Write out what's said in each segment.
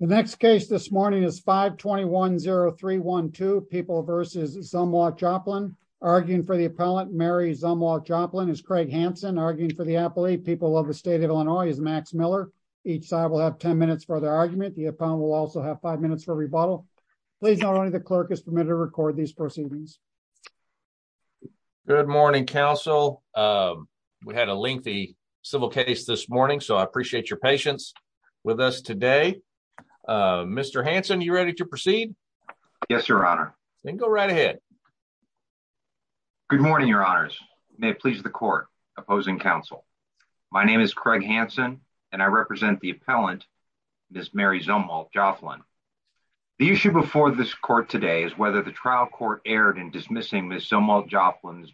The next case this morning is 521-0312, People v. Zumwalt-Joplin. Arguing for the appellant, Mary Zumwalt-Joplin, is Craig Hanson. Arguing for the appellate, People of the State of Illinois, is Max Miller. Each side will have ten minutes for their argument. The appellant will also have five minutes for rebuttal. Please note only the clerk is permitted to record these proceedings. Good morning, counsel. We had a lengthy civil case this morning, so I appreciate your patience with us today. Mr. Hanson, you ready to proceed? Yes, your honor. Then go right ahead. Good morning, your honors. May it please the court opposing counsel. My name is Craig Hanson, and I represent the appellant, Ms. Mary Zumwalt-Joplin. The issue before this court today is whether the trial court erred in dismissing Ms. Zumwalt-Joplin's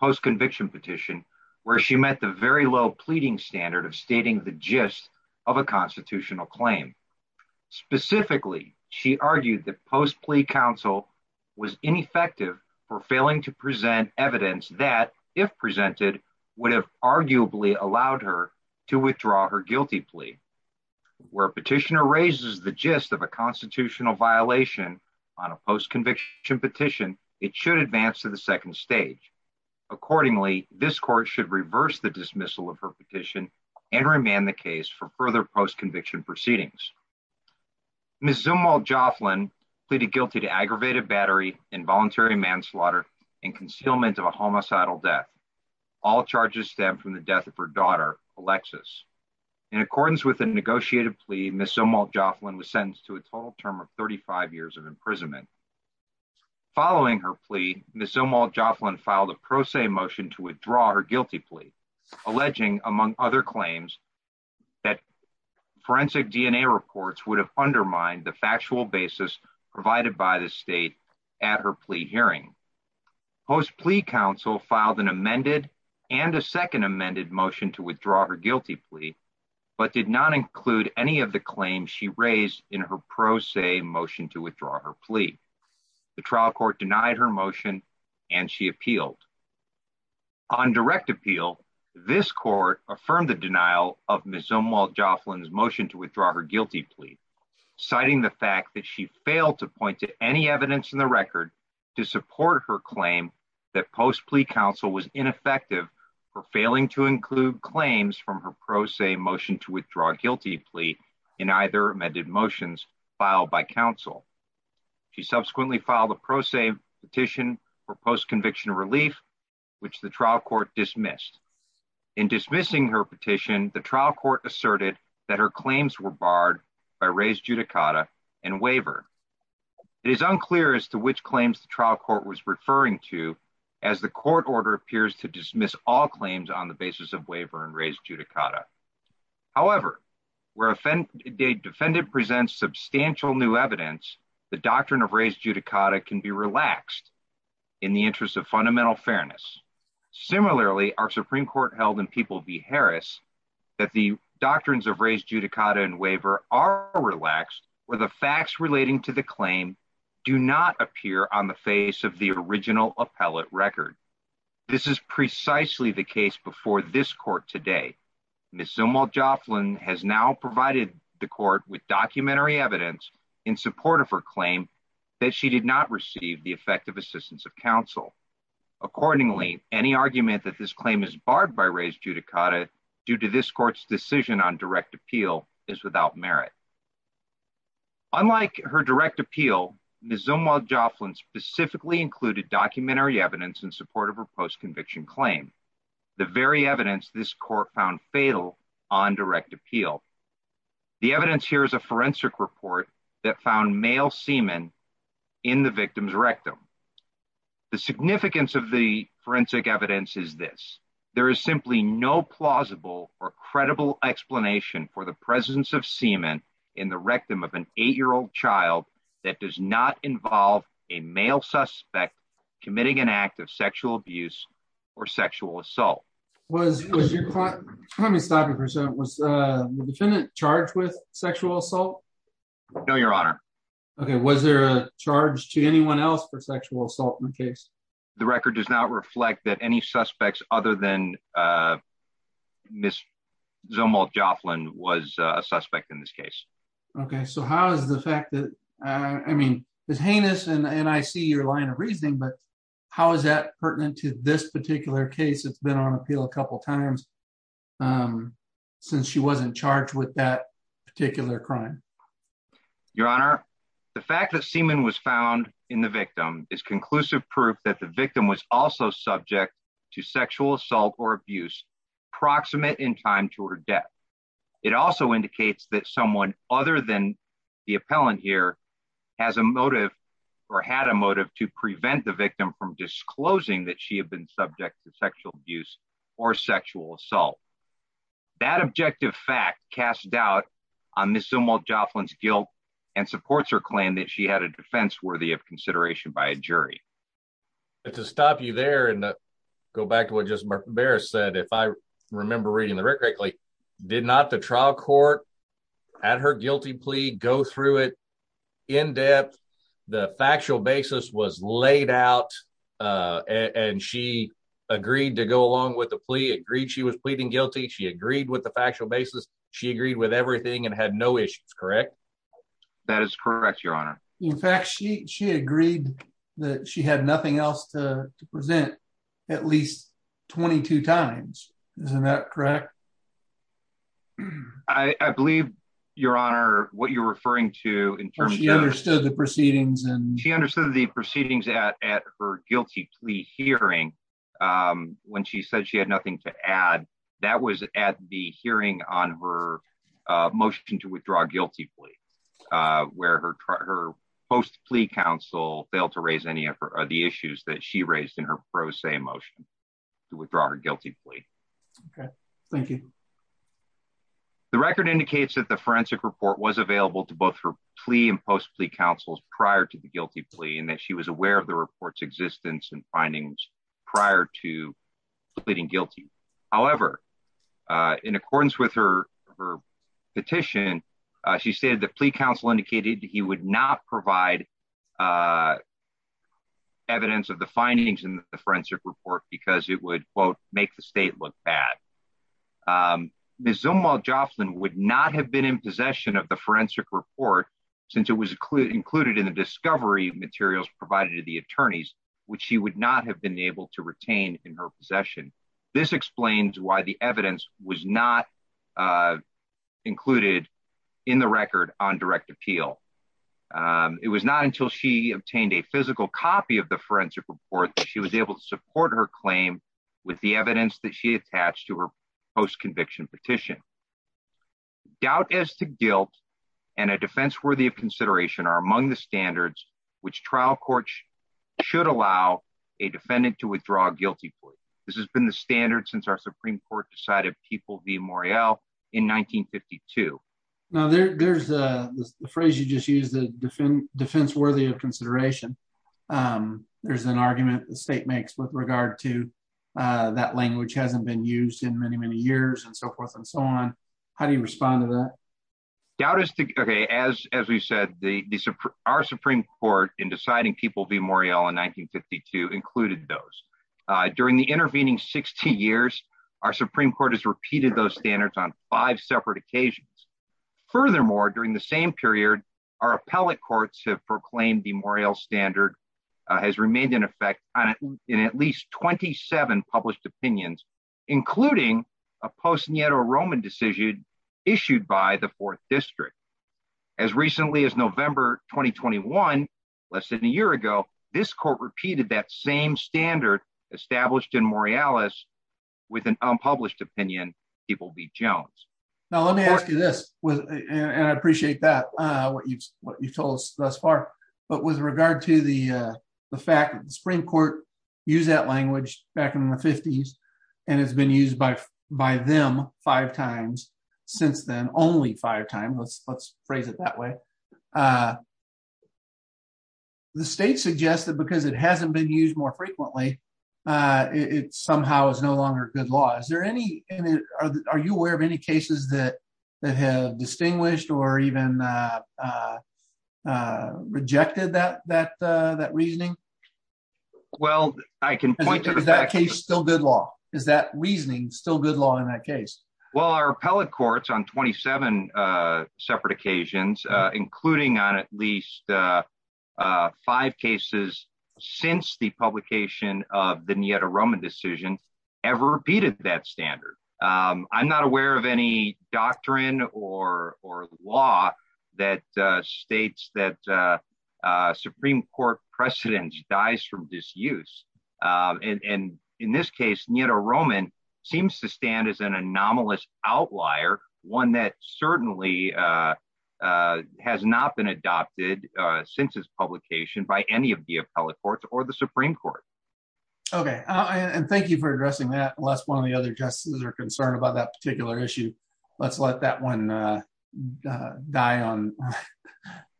post-conviction petition, where she met the very low pleading standard of stating the gist of a constitutional claim. Specifically, she argued that post-plea counsel was ineffective for failing to present evidence that, if presented, would have arguably allowed her to withdraw her guilty plea. Where a petitioner raises the gist of a constitutional violation on a post-conviction petition, it should advance to the second stage. Accordingly, this court should reverse the dismissal of her petition and remand the case for further post-conviction proceedings. Ms. Zumwalt-Joplin pleaded guilty to aggravated battery, involuntary manslaughter, and concealment of a homicidal death. All charges stem from the death of her daughter, Alexis. In accordance with the negotiated plea, Ms. Zumwalt-Joplin was sentenced to a total term of 35 years of imprisonment. Following her plea, Ms. Zumwalt-Joplin filed a pro se motion to withdraw her guilty plea, alleging, among other claims, that forensic DNA reports would have undermined the factual basis provided by the state at her plea hearing. Post-plea counsel filed an amended and a second amended motion to withdraw her guilty plea, but did not include any of the claims she raised in her pro se motion to withdraw her plea. The trial court denied her motion and she appealed. On direct appeal, this court affirmed the denial of Ms. Zumwalt-Joplin's motion to withdraw her guilty plea, citing the fact that she failed to point to any evidence in the record to support her claim that post-plea counsel was ineffective for failing to include her guilty plea in either amended motions filed by counsel. She subsequently filed a pro se petition for post-conviction relief, which the trial court dismissed. In dismissing her petition, the trial court asserted that her claims were barred by res judicata and waiver. It is unclear as to which claims the trial court was referring to, as the court order appears to dismiss all claims on the where a defendant presents substantial new evidence, the doctrine of res judicata can be relaxed in the interest of fundamental fairness. Similarly, our Supreme Court held in People v. Harris that the doctrines of res judicata and waiver are relaxed where the facts relating to the claim do not appear on the face of the original appellate record. This is precisely the case before this court. Ms. Zumwalt-Joplin has now provided the court with documentary evidence in support of her claim that she did not receive the effective assistance of counsel. Accordingly, any argument that this claim is barred by res judicata due to this court's decision on direct appeal is without merit. Unlike her direct appeal, Ms. Zumwalt-Joplin specifically included documentary evidence in support of her post-conviction claim, the very evidence this court found fatal on direct appeal. The evidence here is a forensic report that found male semen in the victim's rectum. The significance of the forensic evidence is this, there is simply no plausible or credible explanation for the presence of semen in the rectum of an eight-year-old child that does not abuse or sexual assault. Was your client, let me stop you for a second, was the defendant charged with sexual assault? No, your honor. Okay, was there a charge to anyone else for sexual assault in the case? The record does not reflect that any suspects other than Ms. Zumwalt-Joplin was a suspect in this case. Okay, so how is the fact that, I mean it's heinous and I see your reasoning, but how is that pertinent to this particular case that's been on appeal a couple times since she wasn't charged with that particular crime? Your honor, the fact that semen was found in the victim is conclusive proof that the victim was also subject to sexual assault or abuse proximate in time to her death. It also indicates that someone other than the appellant here has a motive to prevent the victim from disclosing that she had been subject to sexual abuse or sexual assault. That objective fact casts doubt on Ms. Zumwalt-Joplin's guilt and supports her claim that she had a defense worthy of consideration by a jury. To stop you there and go back to what just Barrett said, if I remember reading the record correctly, did not the trial court at her was laid out and she agreed to go along with the plea, agreed she was pleading guilty, she agreed with the factual basis, she agreed with everything and had no issues, correct? That is correct, your honor. In fact, she agreed that she had nothing else to present at least 22 times, isn't that correct? I believe, your honor, what you're referring to understood the proceedings and she understood the proceedings at her guilty plea hearing when she said she had nothing to add that was at the hearing on her motion to withdraw guilty plea where her post plea counsel failed to raise any of the issues that she raised in her pro se motion to withdraw her guilty plea. Okay, thank you. The record indicates that the forensic report was available to both her plea and post plea counsels prior to the guilty plea and that she was aware of the report's existence and findings prior to pleading guilty. However, in accordance with her petition, she said the plea counsel indicated he would not provide evidence of the findings in the forensic report because it would quote make the state look bad. Ms. Zumwalt-Joplin would not have been in possession of the forensic report since it was included in the discovery materials provided to the attorneys which she would not have been able to retain in her possession. This explains why the evidence was not included in the record on direct appeal. It was not until she obtained a physical copy of the forensic report that she was able to support her claim with the evidence that she attached to her post conviction petition. Doubt as to guilt and a defense worthy of consideration are among the standards which trial courts should allow a defendant to withdraw a guilty plea. This has been the standard since our Supreme Court decided People v. Morreale in 1952. Now there's the phrase you just used the defense worthy of consideration. There's an argument the state makes with regard to that language hasn't been used in many, many years and so forth and so on. How do you respond to that? As we said, our Supreme Court in deciding People v. Morreale in 1952 included those. During the intervening 60 years, our Supreme Court has repeated those standards on five separate occasions. Furthermore, during the same period, our appellate courts have 27 published opinions, including a post Nero Roman decision issued by the fourth district. As recently as November 2021, less than a year ago, this court repeated that same standard established in Morreales with an unpublished opinion, People v. Jones. Now let me ask you this, and I appreciate that, what you've told us thus far, but with regard to the fact that the Supreme Court used that language back in the 50s and it's been used by them five times since then, only five times, let's phrase it that way. The state suggests that because it hasn't been used more frequently, it somehow is no longer good law. Are you aware of any cases that have distinguished or even have rejected that reasoning? Well, I can point to- Is that case still good law? Is that reasoning still good law in that case? Well, our appellate courts on 27 separate occasions, including on at least five cases since the publication of the Nero Roman decision ever repeated that standard. I'm not aware of any that states that Supreme Court precedence dies from disuse. In this case, Nero Roman seems to stand as an anomalous outlier, one that certainly has not been adopted since its publication by any of the appellate courts or the Supreme Court. Okay. Thank you for addressing that. Unless one of the other justices are concerned about that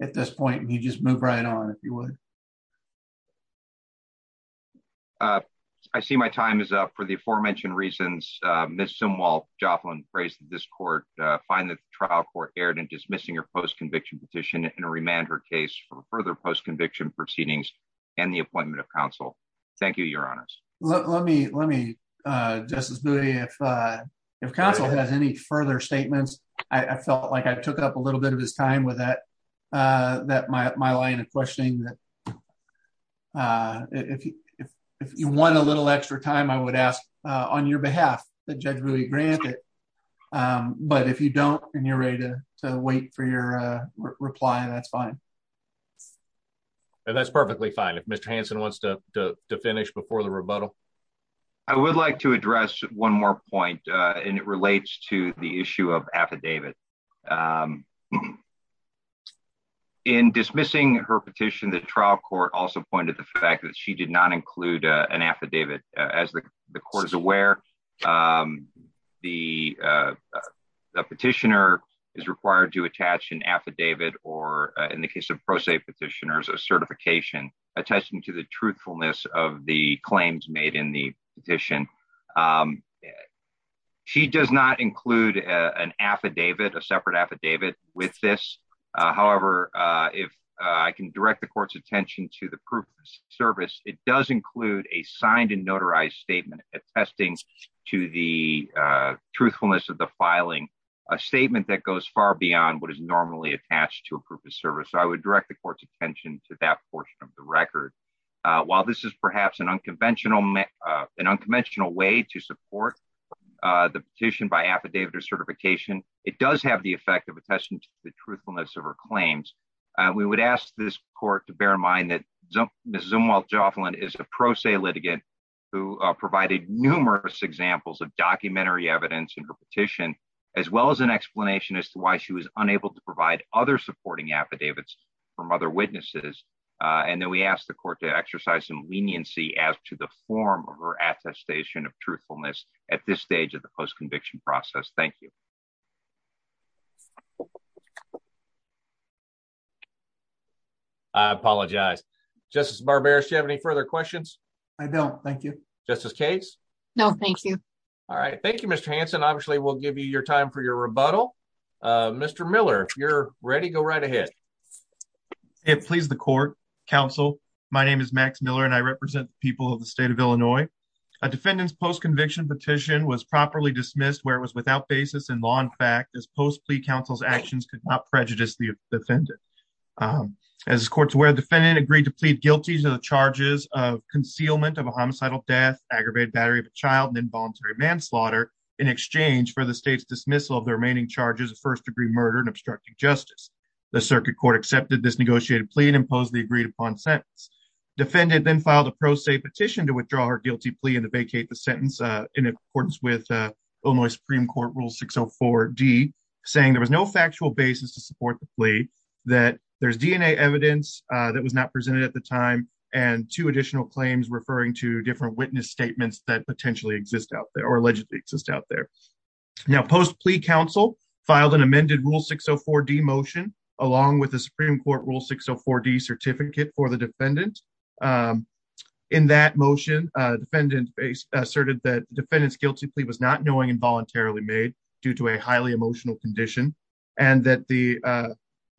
at this point, you just move right on if you would. I see my time is up for the aforementioned reasons. Ms. Simwal-Joplin praised this court find that the trial court erred in dismissing her post-conviction petition and to remand her case for further post-conviction proceedings and the appointment of counsel. Thank you, your honors. Let me, Justice Bowie, if counsel has any further statements, I felt like I took up a little bit of time with my line of questioning. If you want a little extra time, I would ask on your behalf that judge really grant it. But if you don't and you're ready to wait for your reply, that's fine. That's perfectly fine. If Mr. Hanson wants to finish before the rebuttal. I would like to address one more point and it relates to the issue of affidavit. In dismissing her petition, the trial court also pointed to the fact that she did not include an affidavit. As the court is aware, the petitioner is required to attach an affidavit or in the case of pro se petitioners, a certification attaching to the truthfulness of the claims made the petition. She does not include an affidavit, a separate affidavit with this. However, if I can direct the court's attention to the proof of service, it does include a signed and notarized statement attesting to the truthfulness of the filing, a statement that goes far beyond what is normally attached to a proof of service. I would direct the court's attention to that portion of the record. While this is perhaps an unconventional way to support the petition by affidavit or certification, it does have the effect of attesting to the truthfulness of her claims. We would ask this court to bear in mind that Ms. Zumwalt-Jofflin is a pro se litigant who provided numerous examples of documentary evidence in her petition, as well as an explanation as to why she was unable to provide other supporting affidavits from other witnesses. And then we ask the court to exercise some leniency as to the form of her attestation of truthfulness at this stage of the post-conviction process. Thank you. I apologize. Justice Barberis, do you have any further questions? I don't. Thank you. Justice Case? No, thank you. All right. Thank you, Mr. Hanson. Obviously, we'll give you your time for your rebuttal. Mr. Miller, if you're ready, go right ahead. May it please the court. Counsel, my name is Max Miller, and I represent the people of the state of Illinois. A defendant's post-conviction petition was properly dismissed where it was without basis in law and fact, as post-plea counsel's actions could not prejudice the defendant. As the court's aware, the defendant agreed to plead guilty to the charges of concealment of a homicidal death, aggravated battery of a child, and involuntary manslaughter in exchange for the state's dismissal of the remaining charges of first-degree murder and court accepted this negotiated plea and imposed the agreed-upon sentence. Defendant then filed a pro se petition to withdraw her guilty plea and vacate the sentence in accordance with Illinois Supreme Court Rule 604D, saying there was no factual basis to support the plea, that there's DNA evidence that was not presented at the time, and two additional claims referring to different witness statements that potentially exist out there or allegedly exist out there. Now, post-plea counsel filed an amended Rule 604D motion along with the Supreme Court Rule 604D certificate for the defendant. In that motion, defendant asserted that defendant's guilty plea was not knowing and voluntarily made due to a highly emotional condition and that the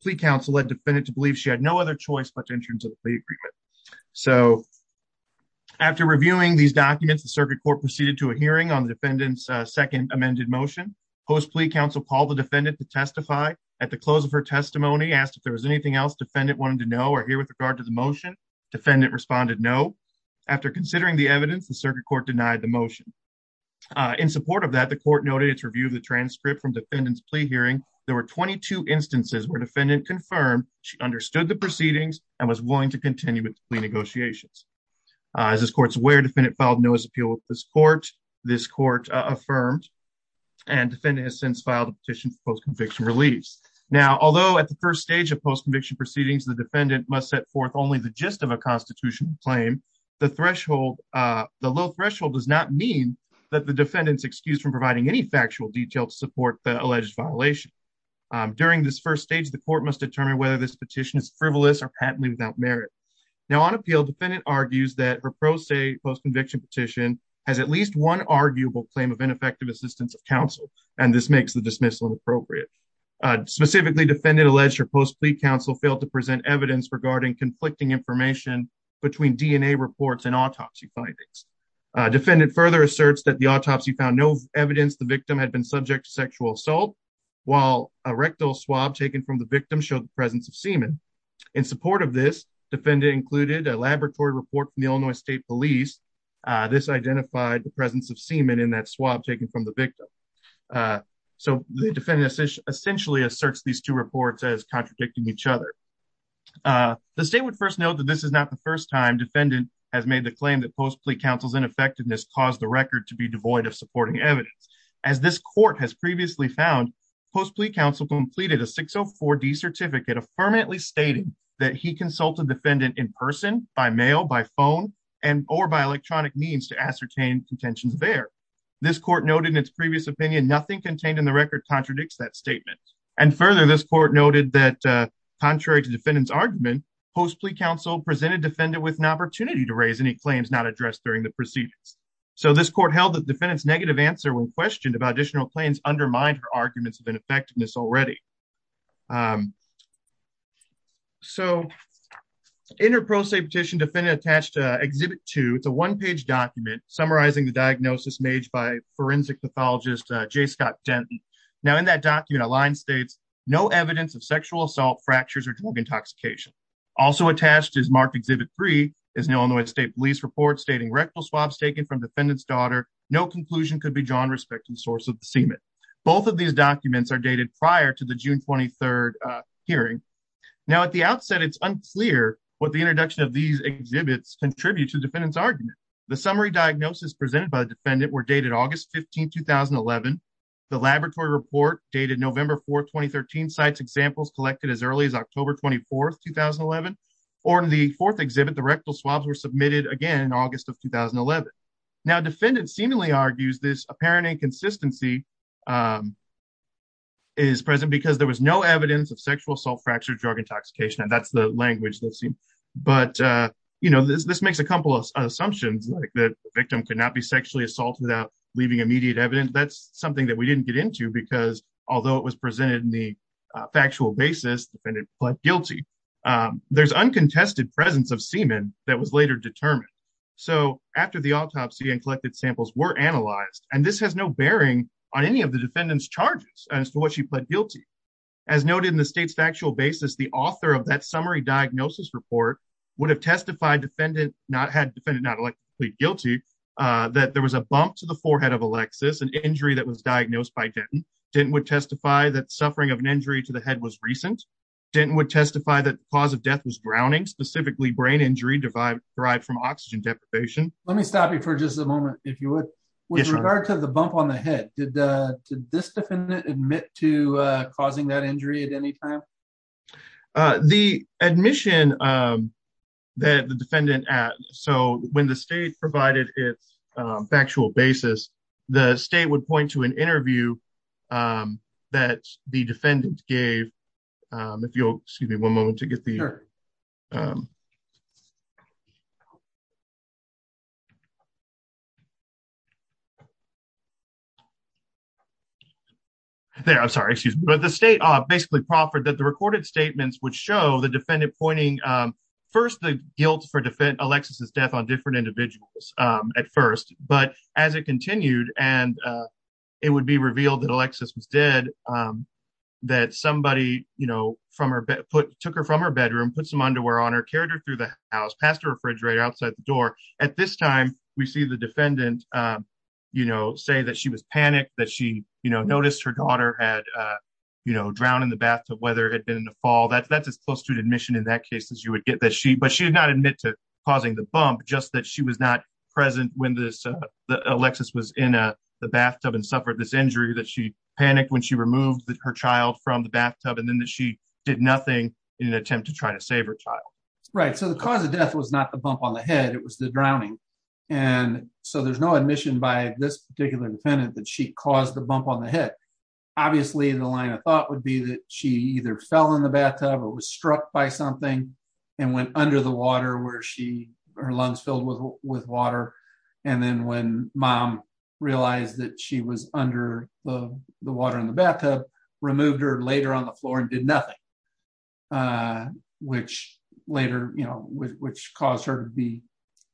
plea counsel led defendant to believe she had no other choice but to enter into the plea agreement. So after reviewing these documents, the circuit court proceeded to a hearing on the defendant's second amended motion. Post-plea counsel called the defendant to testify. At the close of her testimony, asked if there was anything else defendant wanted to know or hear with regard to the motion. Defendant responded no. After considering the evidence, the circuit court denied the motion. In support of that, the court noted its review of the transcript from defendant's plea hearing. There were 22 instances where defendant confirmed she understood the proceedings and was willing to continue with the plea negotiations. As this court's aware, defendant filed no appeal with this court. This court affirmed and defendant has since filed a petition for post-conviction release. Now, although at the first stage of post-conviction proceedings, the defendant must set forth only the gist of a constitutional claim, the threshold, the low threshold does not mean that the defendant's excused from providing any factual detail to support the alleged violation. During this first stage, the court must determine whether this petition is frivolous or patently without merit. Now, on appeal, defendant argues that her pro se post-conviction petition has at least one arguable claim of ineffective assistance of counsel and this makes the dismissal inappropriate. Specifically, defendant alleged her post-plea counsel failed to present evidence regarding conflicting information between DNA reports and autopsy findings. Defendant further asserts that the autopsy found no evidence the victim had been subject to sexual assault, while a rectal swab taken from the victim showed the presence of semen. In support of this, defendant included a laboratory report from the Illinois State Police. This identified the presence of semen in that swab taken from the victim. So, the defendant essentially asserts these two reports as contradicting each other. The state would first note that this is not the first time defendant has made the claim that post-plea counsel's ineffectiveness caused the record to be devoid of supporting evidence. As this court has previously found, post-plea counsel completed a 604D certificate, affirmantly stating that he consulted defendant in person, by mail, by phone, and or by electronic means to ascertain contentions there. This court noted in its previous opinion, nothing contained in the record contradicts that statement. And further, this court noted that contrary to defendant's argument, post-plea counsel presented defendant with an opportunity to raise any claims not addressed during the proceedings. So, this court held that defendant's negative answer when questioned about additional claims undermined her arguments of ineffectiveness already. So, in her pro se petition, defendant attached Exhibit 2. It's a one-page document summarizing the diagnosis made by forensic pathologist J. Scott Denton. Now, in that document, a line states, no evidence of sexual assault, fractures, or drug intoxication. Also attached is marked Exhibit 3, is an Illinois State Police report stating rectal swabs taken from defendant's daughter. No conclusion could be drawn respecting source of the semen. Both of these documents are dated prior to the June 23rd hearing. Now, at the outset, it's unclear what the introduction of these exhibits contribute to defendant's argument. The summary diagnosis presented by the defendant were dated August 15, 2011. The laboratory report dated November 4, 2013, cites examples collected as early as October 24, 2011. Or in the fourth exhibit, the rectal swabs were submitted again in August of 2011. Now, defendant seemingly argues this apparent inconsistency is present because there was no evidence of sexual assault, fracture, drug intoxication, and that's the language they've seen. But, you know, this makes a couple of assumptions, like the victim could not be sexually assaulted without leaving immediate evidence. That's something that we didn't get into because, although it was presented in the factual basis, defendant pled guilty. There's uncontested presence of semen that was later determined. So, after the autopsy and collected samples were analyzed, and this has no bearing on any of the defendant's charges as to what she pled guilty. As noted in the state's factual basis, the author of that summary diagnosis report would have testified defendant not had defendant not guilty that there was a bump to the forehead of Alexis, an injury that was diagnosed by Denton. Denton would testify that suffering of an injury to the head was recent. Denton would testify that cause of death was drowning, specifically brain injury derived from oxygen deprivation. Let me stop you for just a moment, if you would. With regard to the bump on the head, did this defendant admit to causing that injury at any time? The admission that the defendant, so when the state provided its factual basis, the state would point to an interview that the defendant gave. If you'll excuse me one moment to get the... There, I'm sorry, excuse me. But the state basically proffered that the recorded statements would show the defendant pointing first the guilt for Alexis' death on different individuals at first, but as it continued, and it would be revealed that Alexis was dead, that somebody took her from her bedroom, put some underwear on her, carried her through the house, passed her refrigerator outside the door. At this time, we see the defendant say that she was panicked, that she noticed her daughter had drowned in the bathtub, whether it had been in the fall. That's as close to an admission in that case as you would get, but she did not admit to causing the bump, just that she was not present when Alexis was in the bathtub and suffered this that her child from the bathtub and then that she did nothing in an attempt to try to save her child. Right. So the cause of death was not the bump on the head, it was the drowning. And so there's no admission by this particular defendant that she caused the bump on the head. Obviously, the line of thought would be that she either fell in the bathtub or was struck by something and went under the water where her lungs filled with water. And then when mom realized that she was under the water in the bathtub, removed her later on the floor and did nothing, which later, you know, which caused her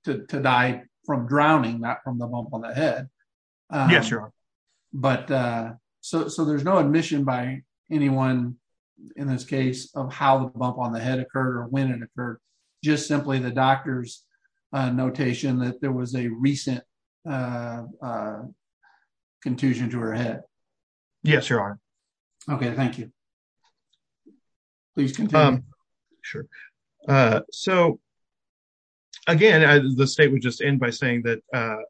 to die from drowning, not from the bump on the head. Yes, sure. But so there's no admission by anyone in this case of how the bump on the head occurred or when it occurred. Just simply the doctor's notation that there was a recent contusion to her head. Yes, there are. Okay, thank you. Please continue. Sure. So, again, the state would just end by saying that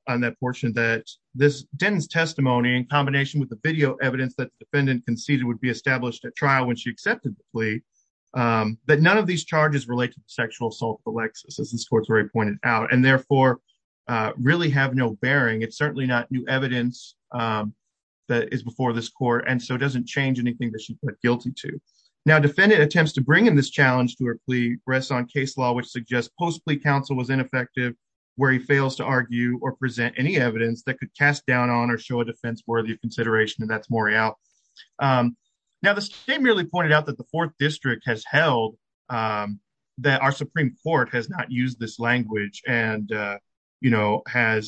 on that portion that this Denton's testimony in combination with the video evidence that the defendant conceded would be established at trial when she accepted the plea, that none of these charges related to sexual assault for Alexis, as this court's very pointed out, and therefore really have no bearing. It's certainly not new evidence that is before this court, and so it doesn't change anything that she's put guilty to. Now, defendant attempts to bring in this challenge to her plea rests on case law, which suggests post-plea counsel was ineffective, where he fails to argue or present any evidence that could cast doubt on or show a defense worthy of consideration, and that's Morial. Now, the state merely pointed out that the fourth district has held that our Supreme Court has not used this language and has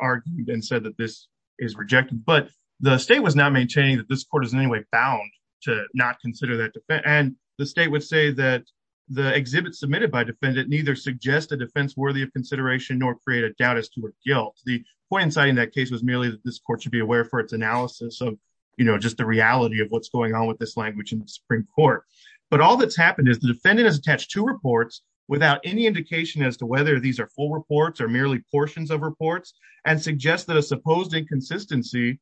argued and said that this is rejected, but the state was not maintaining that this court is in any way bound to not consider that defense, and the state would say that the exhibit submitted by defendant neither suggest a defense worthy of consideration nor create a doubt as to her guilt. The point in citing that case was merely that this court should be aware for its analysis of just the reality of what's going on with this language in the Supreme Court, but all that's happened is the defendant has attached two reports without any indication as to whether these are full reports or merely portions of reports and suggests that a supposed inconsistency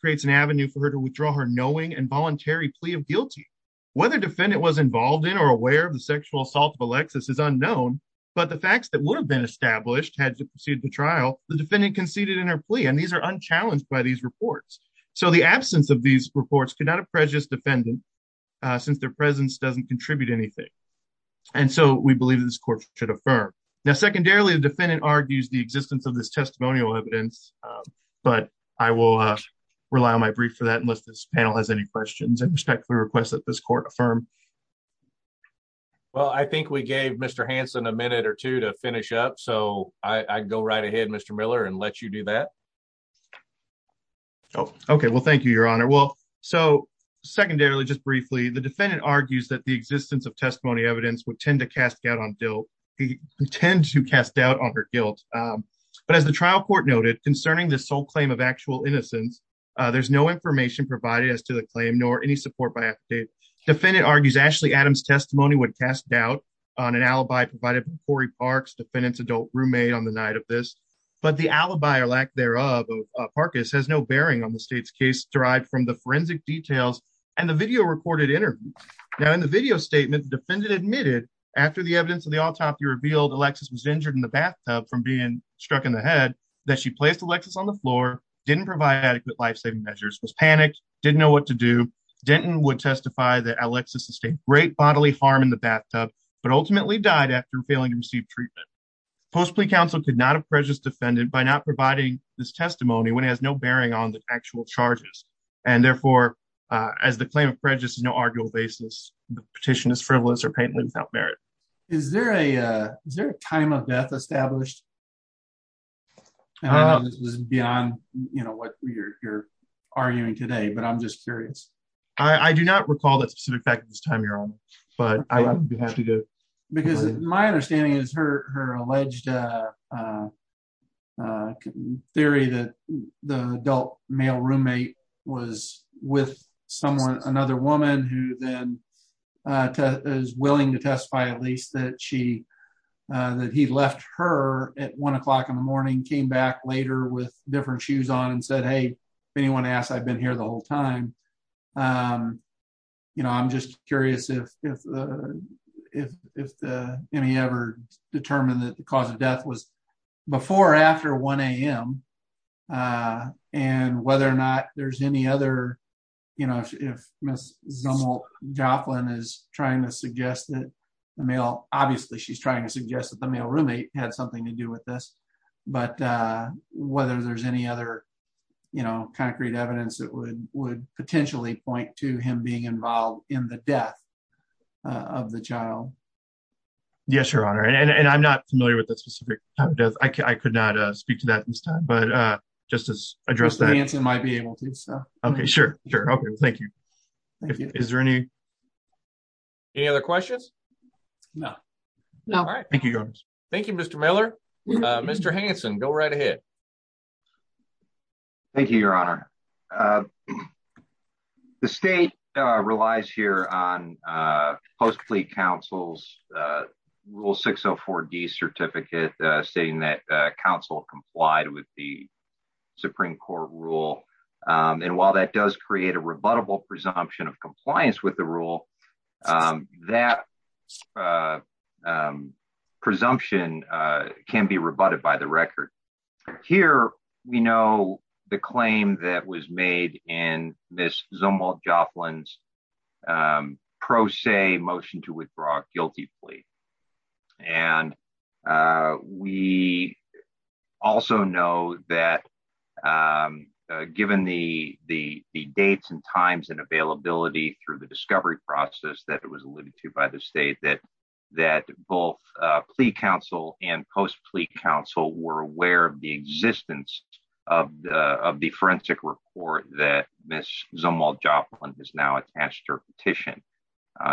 creates an avenue for her to withdraw her knowing and voluntary plea of guilty. Whether defendant was involved in or aware of the sexual assault of Alexis is unknown, but the facts that would have been established had to proceed to trial, the defendant conceded in her plea, and these are unchallenged by these reports, so the absence of these reports could not have prejudiced defendant since their presence doesn't contribute anything, and so we believe this court should affirm. Now, secondarily, the defendant argues the existence of this testimonial evidence, but I will rely on my brief for that unless this panel has any questions. I respectfully request that this court affirm. Well, I think we gave Mr. Hansen a minute or two to finish up, so I go right ahead, Mr. Miller, and let you do that. Okay, well, thank you, Your Honor. Well, so secondarily, just briefly, the defendant argues that the existence of testimony evidence would tend to cast doubt on her guilt, but as the trial court noted concerning the sole claim of actual innocence, there's no information provided as to the claim nor any support by affidavit. Defendant argues Ashley Adams' testimony would cast doubt on an alibi provided by Cory Parks, defendant's adult roommate on the night of this, but the alibi or lack thereof of Parkes has no bearing on the state's case derived from the forensic details and the video recorded interview. Now, in the video statement, the defendant admitted after the evidence of the autopsy revealed Alexis was injured in the bathtub from being struck in the head that she placed Alexis on the floor, didn't provide adequate life-saving measures, was panicked, didn't know what to do. Denton would testify that Alexis sustained great after failing to receive treatment. Post-plea counsel could not have prejudice defended by not providing this testimony when it has no bearing on the actual charges, and therefore, as the claim of prejudice is no arguable basis, the petition is frivolous or painfully without merit. Is there a time of death established? I don't know if this is beyond what you're arguing today, but I'm just curious. I do not recall that specific fact at this time, Your Honor, but I have to go. Because my understanding is her alleged theory that the adult male roommate was with someone, another woman, who then is willing to testify at least that she, that he left her at one o'clock in the morning, came back later with different shoes on and said, if anyone asks, I've been here the whole time. I'm just curious if any ever determined that the cause of death was before or after 1 a.m., and whether or not there's any other, if Ms. Joplin is trying to suggest that the male, obviously she's trying to suggest that the male roommate had something to do with this, but whether there's any other concrete evidence that would potentially point to him being involved in the death of the child. Yes, Your Honor, and I'm not familiar with the specific time of death. I could not speak to that at this time, but just to address that. Mr. Manson might be able to. Okay, sure. Thank you. Is there any other questions? No. No. All right. Thank you, Your Honor. Thank you, Mr. Miller. Mr. Hanson, go right ahead. Thank you, Your Honor. The state relies here on post-plea counsel's rule 604D certificate stating that counsel complied with the Supreme Court rule, and while that does create a presumption, it can be rebutted by the record. Here, we know the claim that was made in Ms. Zumwalt Joplin's pro se motion to withdraw a guilty plea, and we also know that given the dates and times and availability through the discovery process that it was alluded to by the state that both plea counsel and post-plea counsel were aware of the existence of the forensic report that Ms. Zumwalt Joplin has now attached her petition.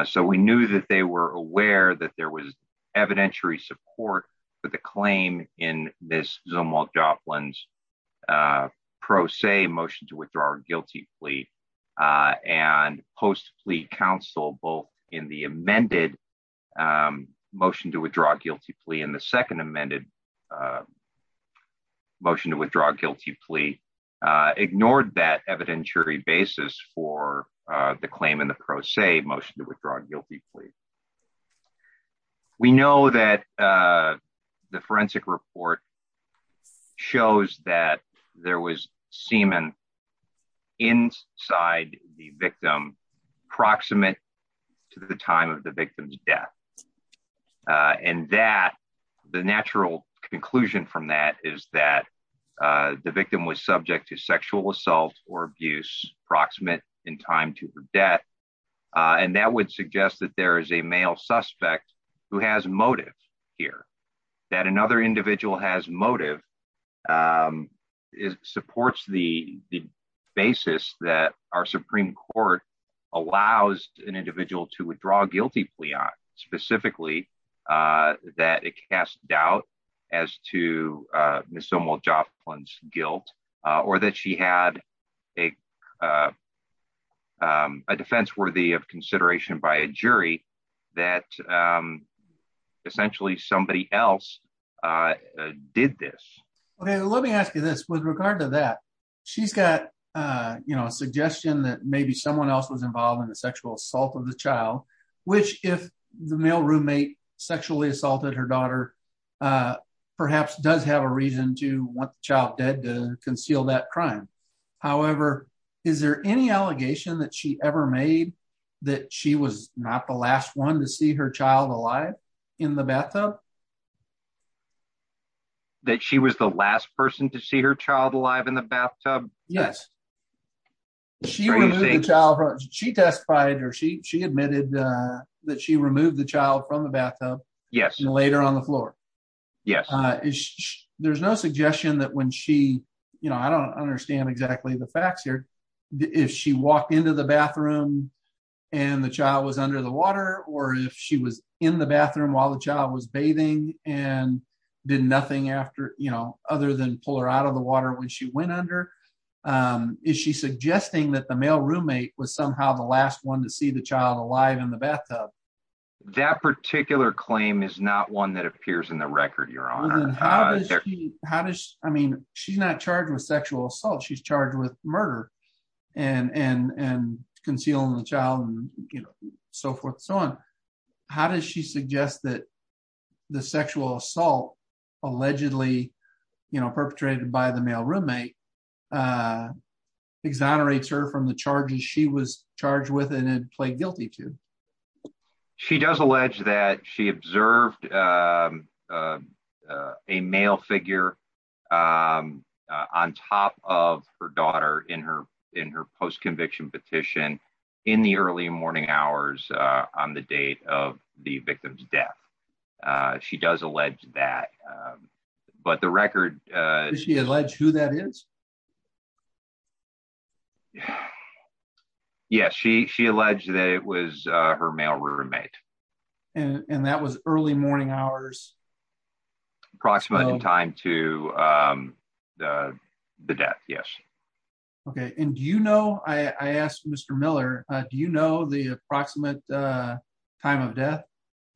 So we knew that they were aware that there was evidentiary support for the claim in Ms. Zumwalt Joplin's pro se motion to withdraw a guilty plea, and the second amended motion to withdraw a guilty plea ignored that evidentiary basis for the claim in the pro se motion to withdraw a guilty plea. We know that the forensic report shows that there was semen inside the victim proximate to the time of the victim's death, and that the natural conclusion from that is that the victim was subject to sexual assault or abuse proximate in time to her death, and that would suggest that there is a male suspect who has motive here, that another allows an individual to withdraw a guilty plea on specifically that it casts doubt as to Ms. Zumwalt Joplin's guilt or that she had a defense worthy of consideration by a jury that essentially somebody else did this. Okay, let me ask you this. With regard to that, she's got a suggestion that maybe someone else was involved in the sexual assault of the child, which if the male roommate sexually assaulted her daughter, perhaps does have a reason to want the child dead to conceal that crime. However, is there any allegation that she ever made that she was not the last one to see her child alive in the bathtub? That she was the last person to see her child alive in the bathtub? Yes, she was a child. She testified or she admitted that she removed the child from the bathtub. Yes. And later on the floor. Yes. There's no suggestion that when she, you know, I don't understand exactly the facts here. If she walked into the bathroom, and the child was under the water, or if she was in the and did nothing after, you know, other than pull her out of the water when she went under, is she suggesting that the male roommate was somehow the last one to see the child alive in the bathtub? That particular claim is not one that appears in the record, Your Honor. How does I mean, she's not charged with sexual assault, she's charged with murder, and and and the sexual assault, allegedly, you know, perpetrated by the male roommate, exonerates her from the charges she was charged with and played guilty to? She does allege that she observed a male figure on top of her daughter in her in her post does allege that. But the record, she alleged who that is. Yes, she she alleged that it was her male roommate. And that was early morning hours. Approximately in time to the death. Yes. Okay. And do you know, I asked Mr. Miller, do you know the approximate time of death?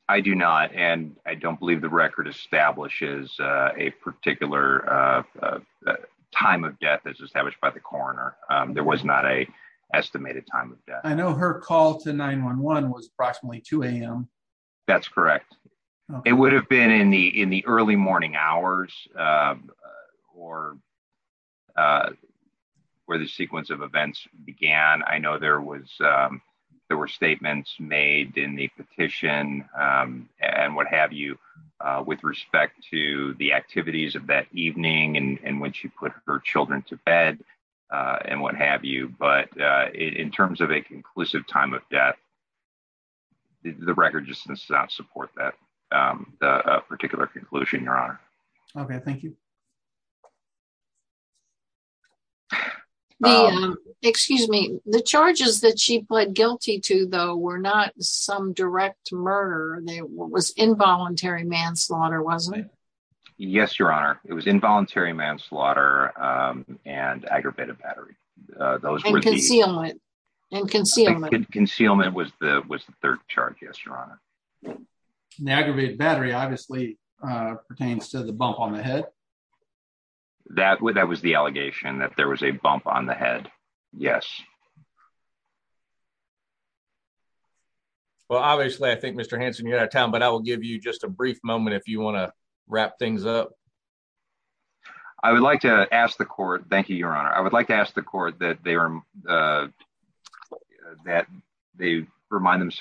I do not. And I don't believe the record establishes a particular time of death as established by the coroner. There was not a estimated time of death. I know her call to 911 was approximately 2am. That's correct. It would have been in the in early morning hours. Or where the sequence of events began. I know there was, there were statements made in the petition, and what have you, with respect to the activities of that evening, and when she put her children to bed, and what have you. But in terms of a conclusive time of Okay, thank you. Excuse me, the charges that she pled guilty to, though, were not some direct murder, they was involuntary manslaughter, wasn't it? Yes, Your Honor, it was involuntary manslaughter, and aggravated battery. Those were the concealment and concealment. Concealment was the was the third charge. Yes, Your Honor. And the aggravated battery obviously pertains to the bump on the head. That would that was the allegation that there was a bump on the head. Yes. Well, obviously, I think Mr. Hanson, you're out of town, but I will give you just a brief moment if you want to wrap things up. I would like to ask the court. Thank you, Your Honor. I would like to ask the court to provide the evidence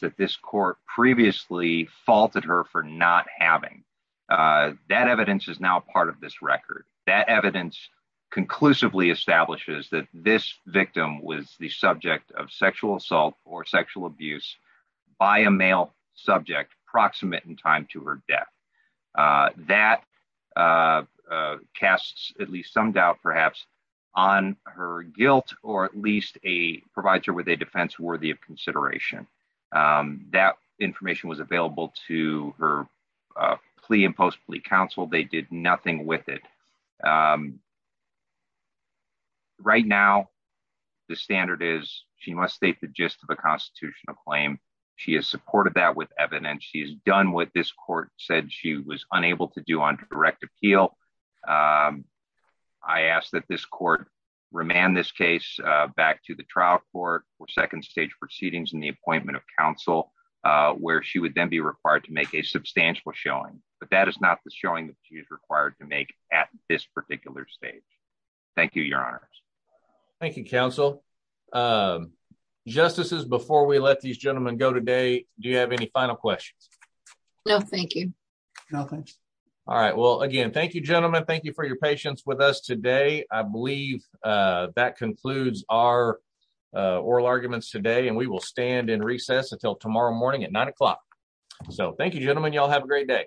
that this court previously faulted her for not having. That evidence is now part of this record. That evidence conclusively establishes that this victim was the subject of sexual assault or sexual abuse by a male subject proximate in time to her death. That casts at least some doubt perhaps on her guilt or at least a provider with a defense worthy of consideration. That information was available to her plea and post plea counsel. They did nothing with it. Right now, the standard is she must state the gist of the constitutional claim. She has supported that with evidence. She has done what this court said she was unable to do on direct appeal. I ask that this court remand this case back to the trial court for second stage proceedings in the appointment of counsel where she would then be required to make a substantial showing. But that is not the showing that she is required to make at this particular stage. Thank you, Your Honor. Thank you, counsel. Justices, before we let these go, thanks. All right. Well, again, thank you, gentlemen. Thank you for your patience with us today. I believe that concludes our oral arguments today and we will stand in recess until tomorrow morning at nine o'clock. So thank you, gentlemen. Y'all have a great day.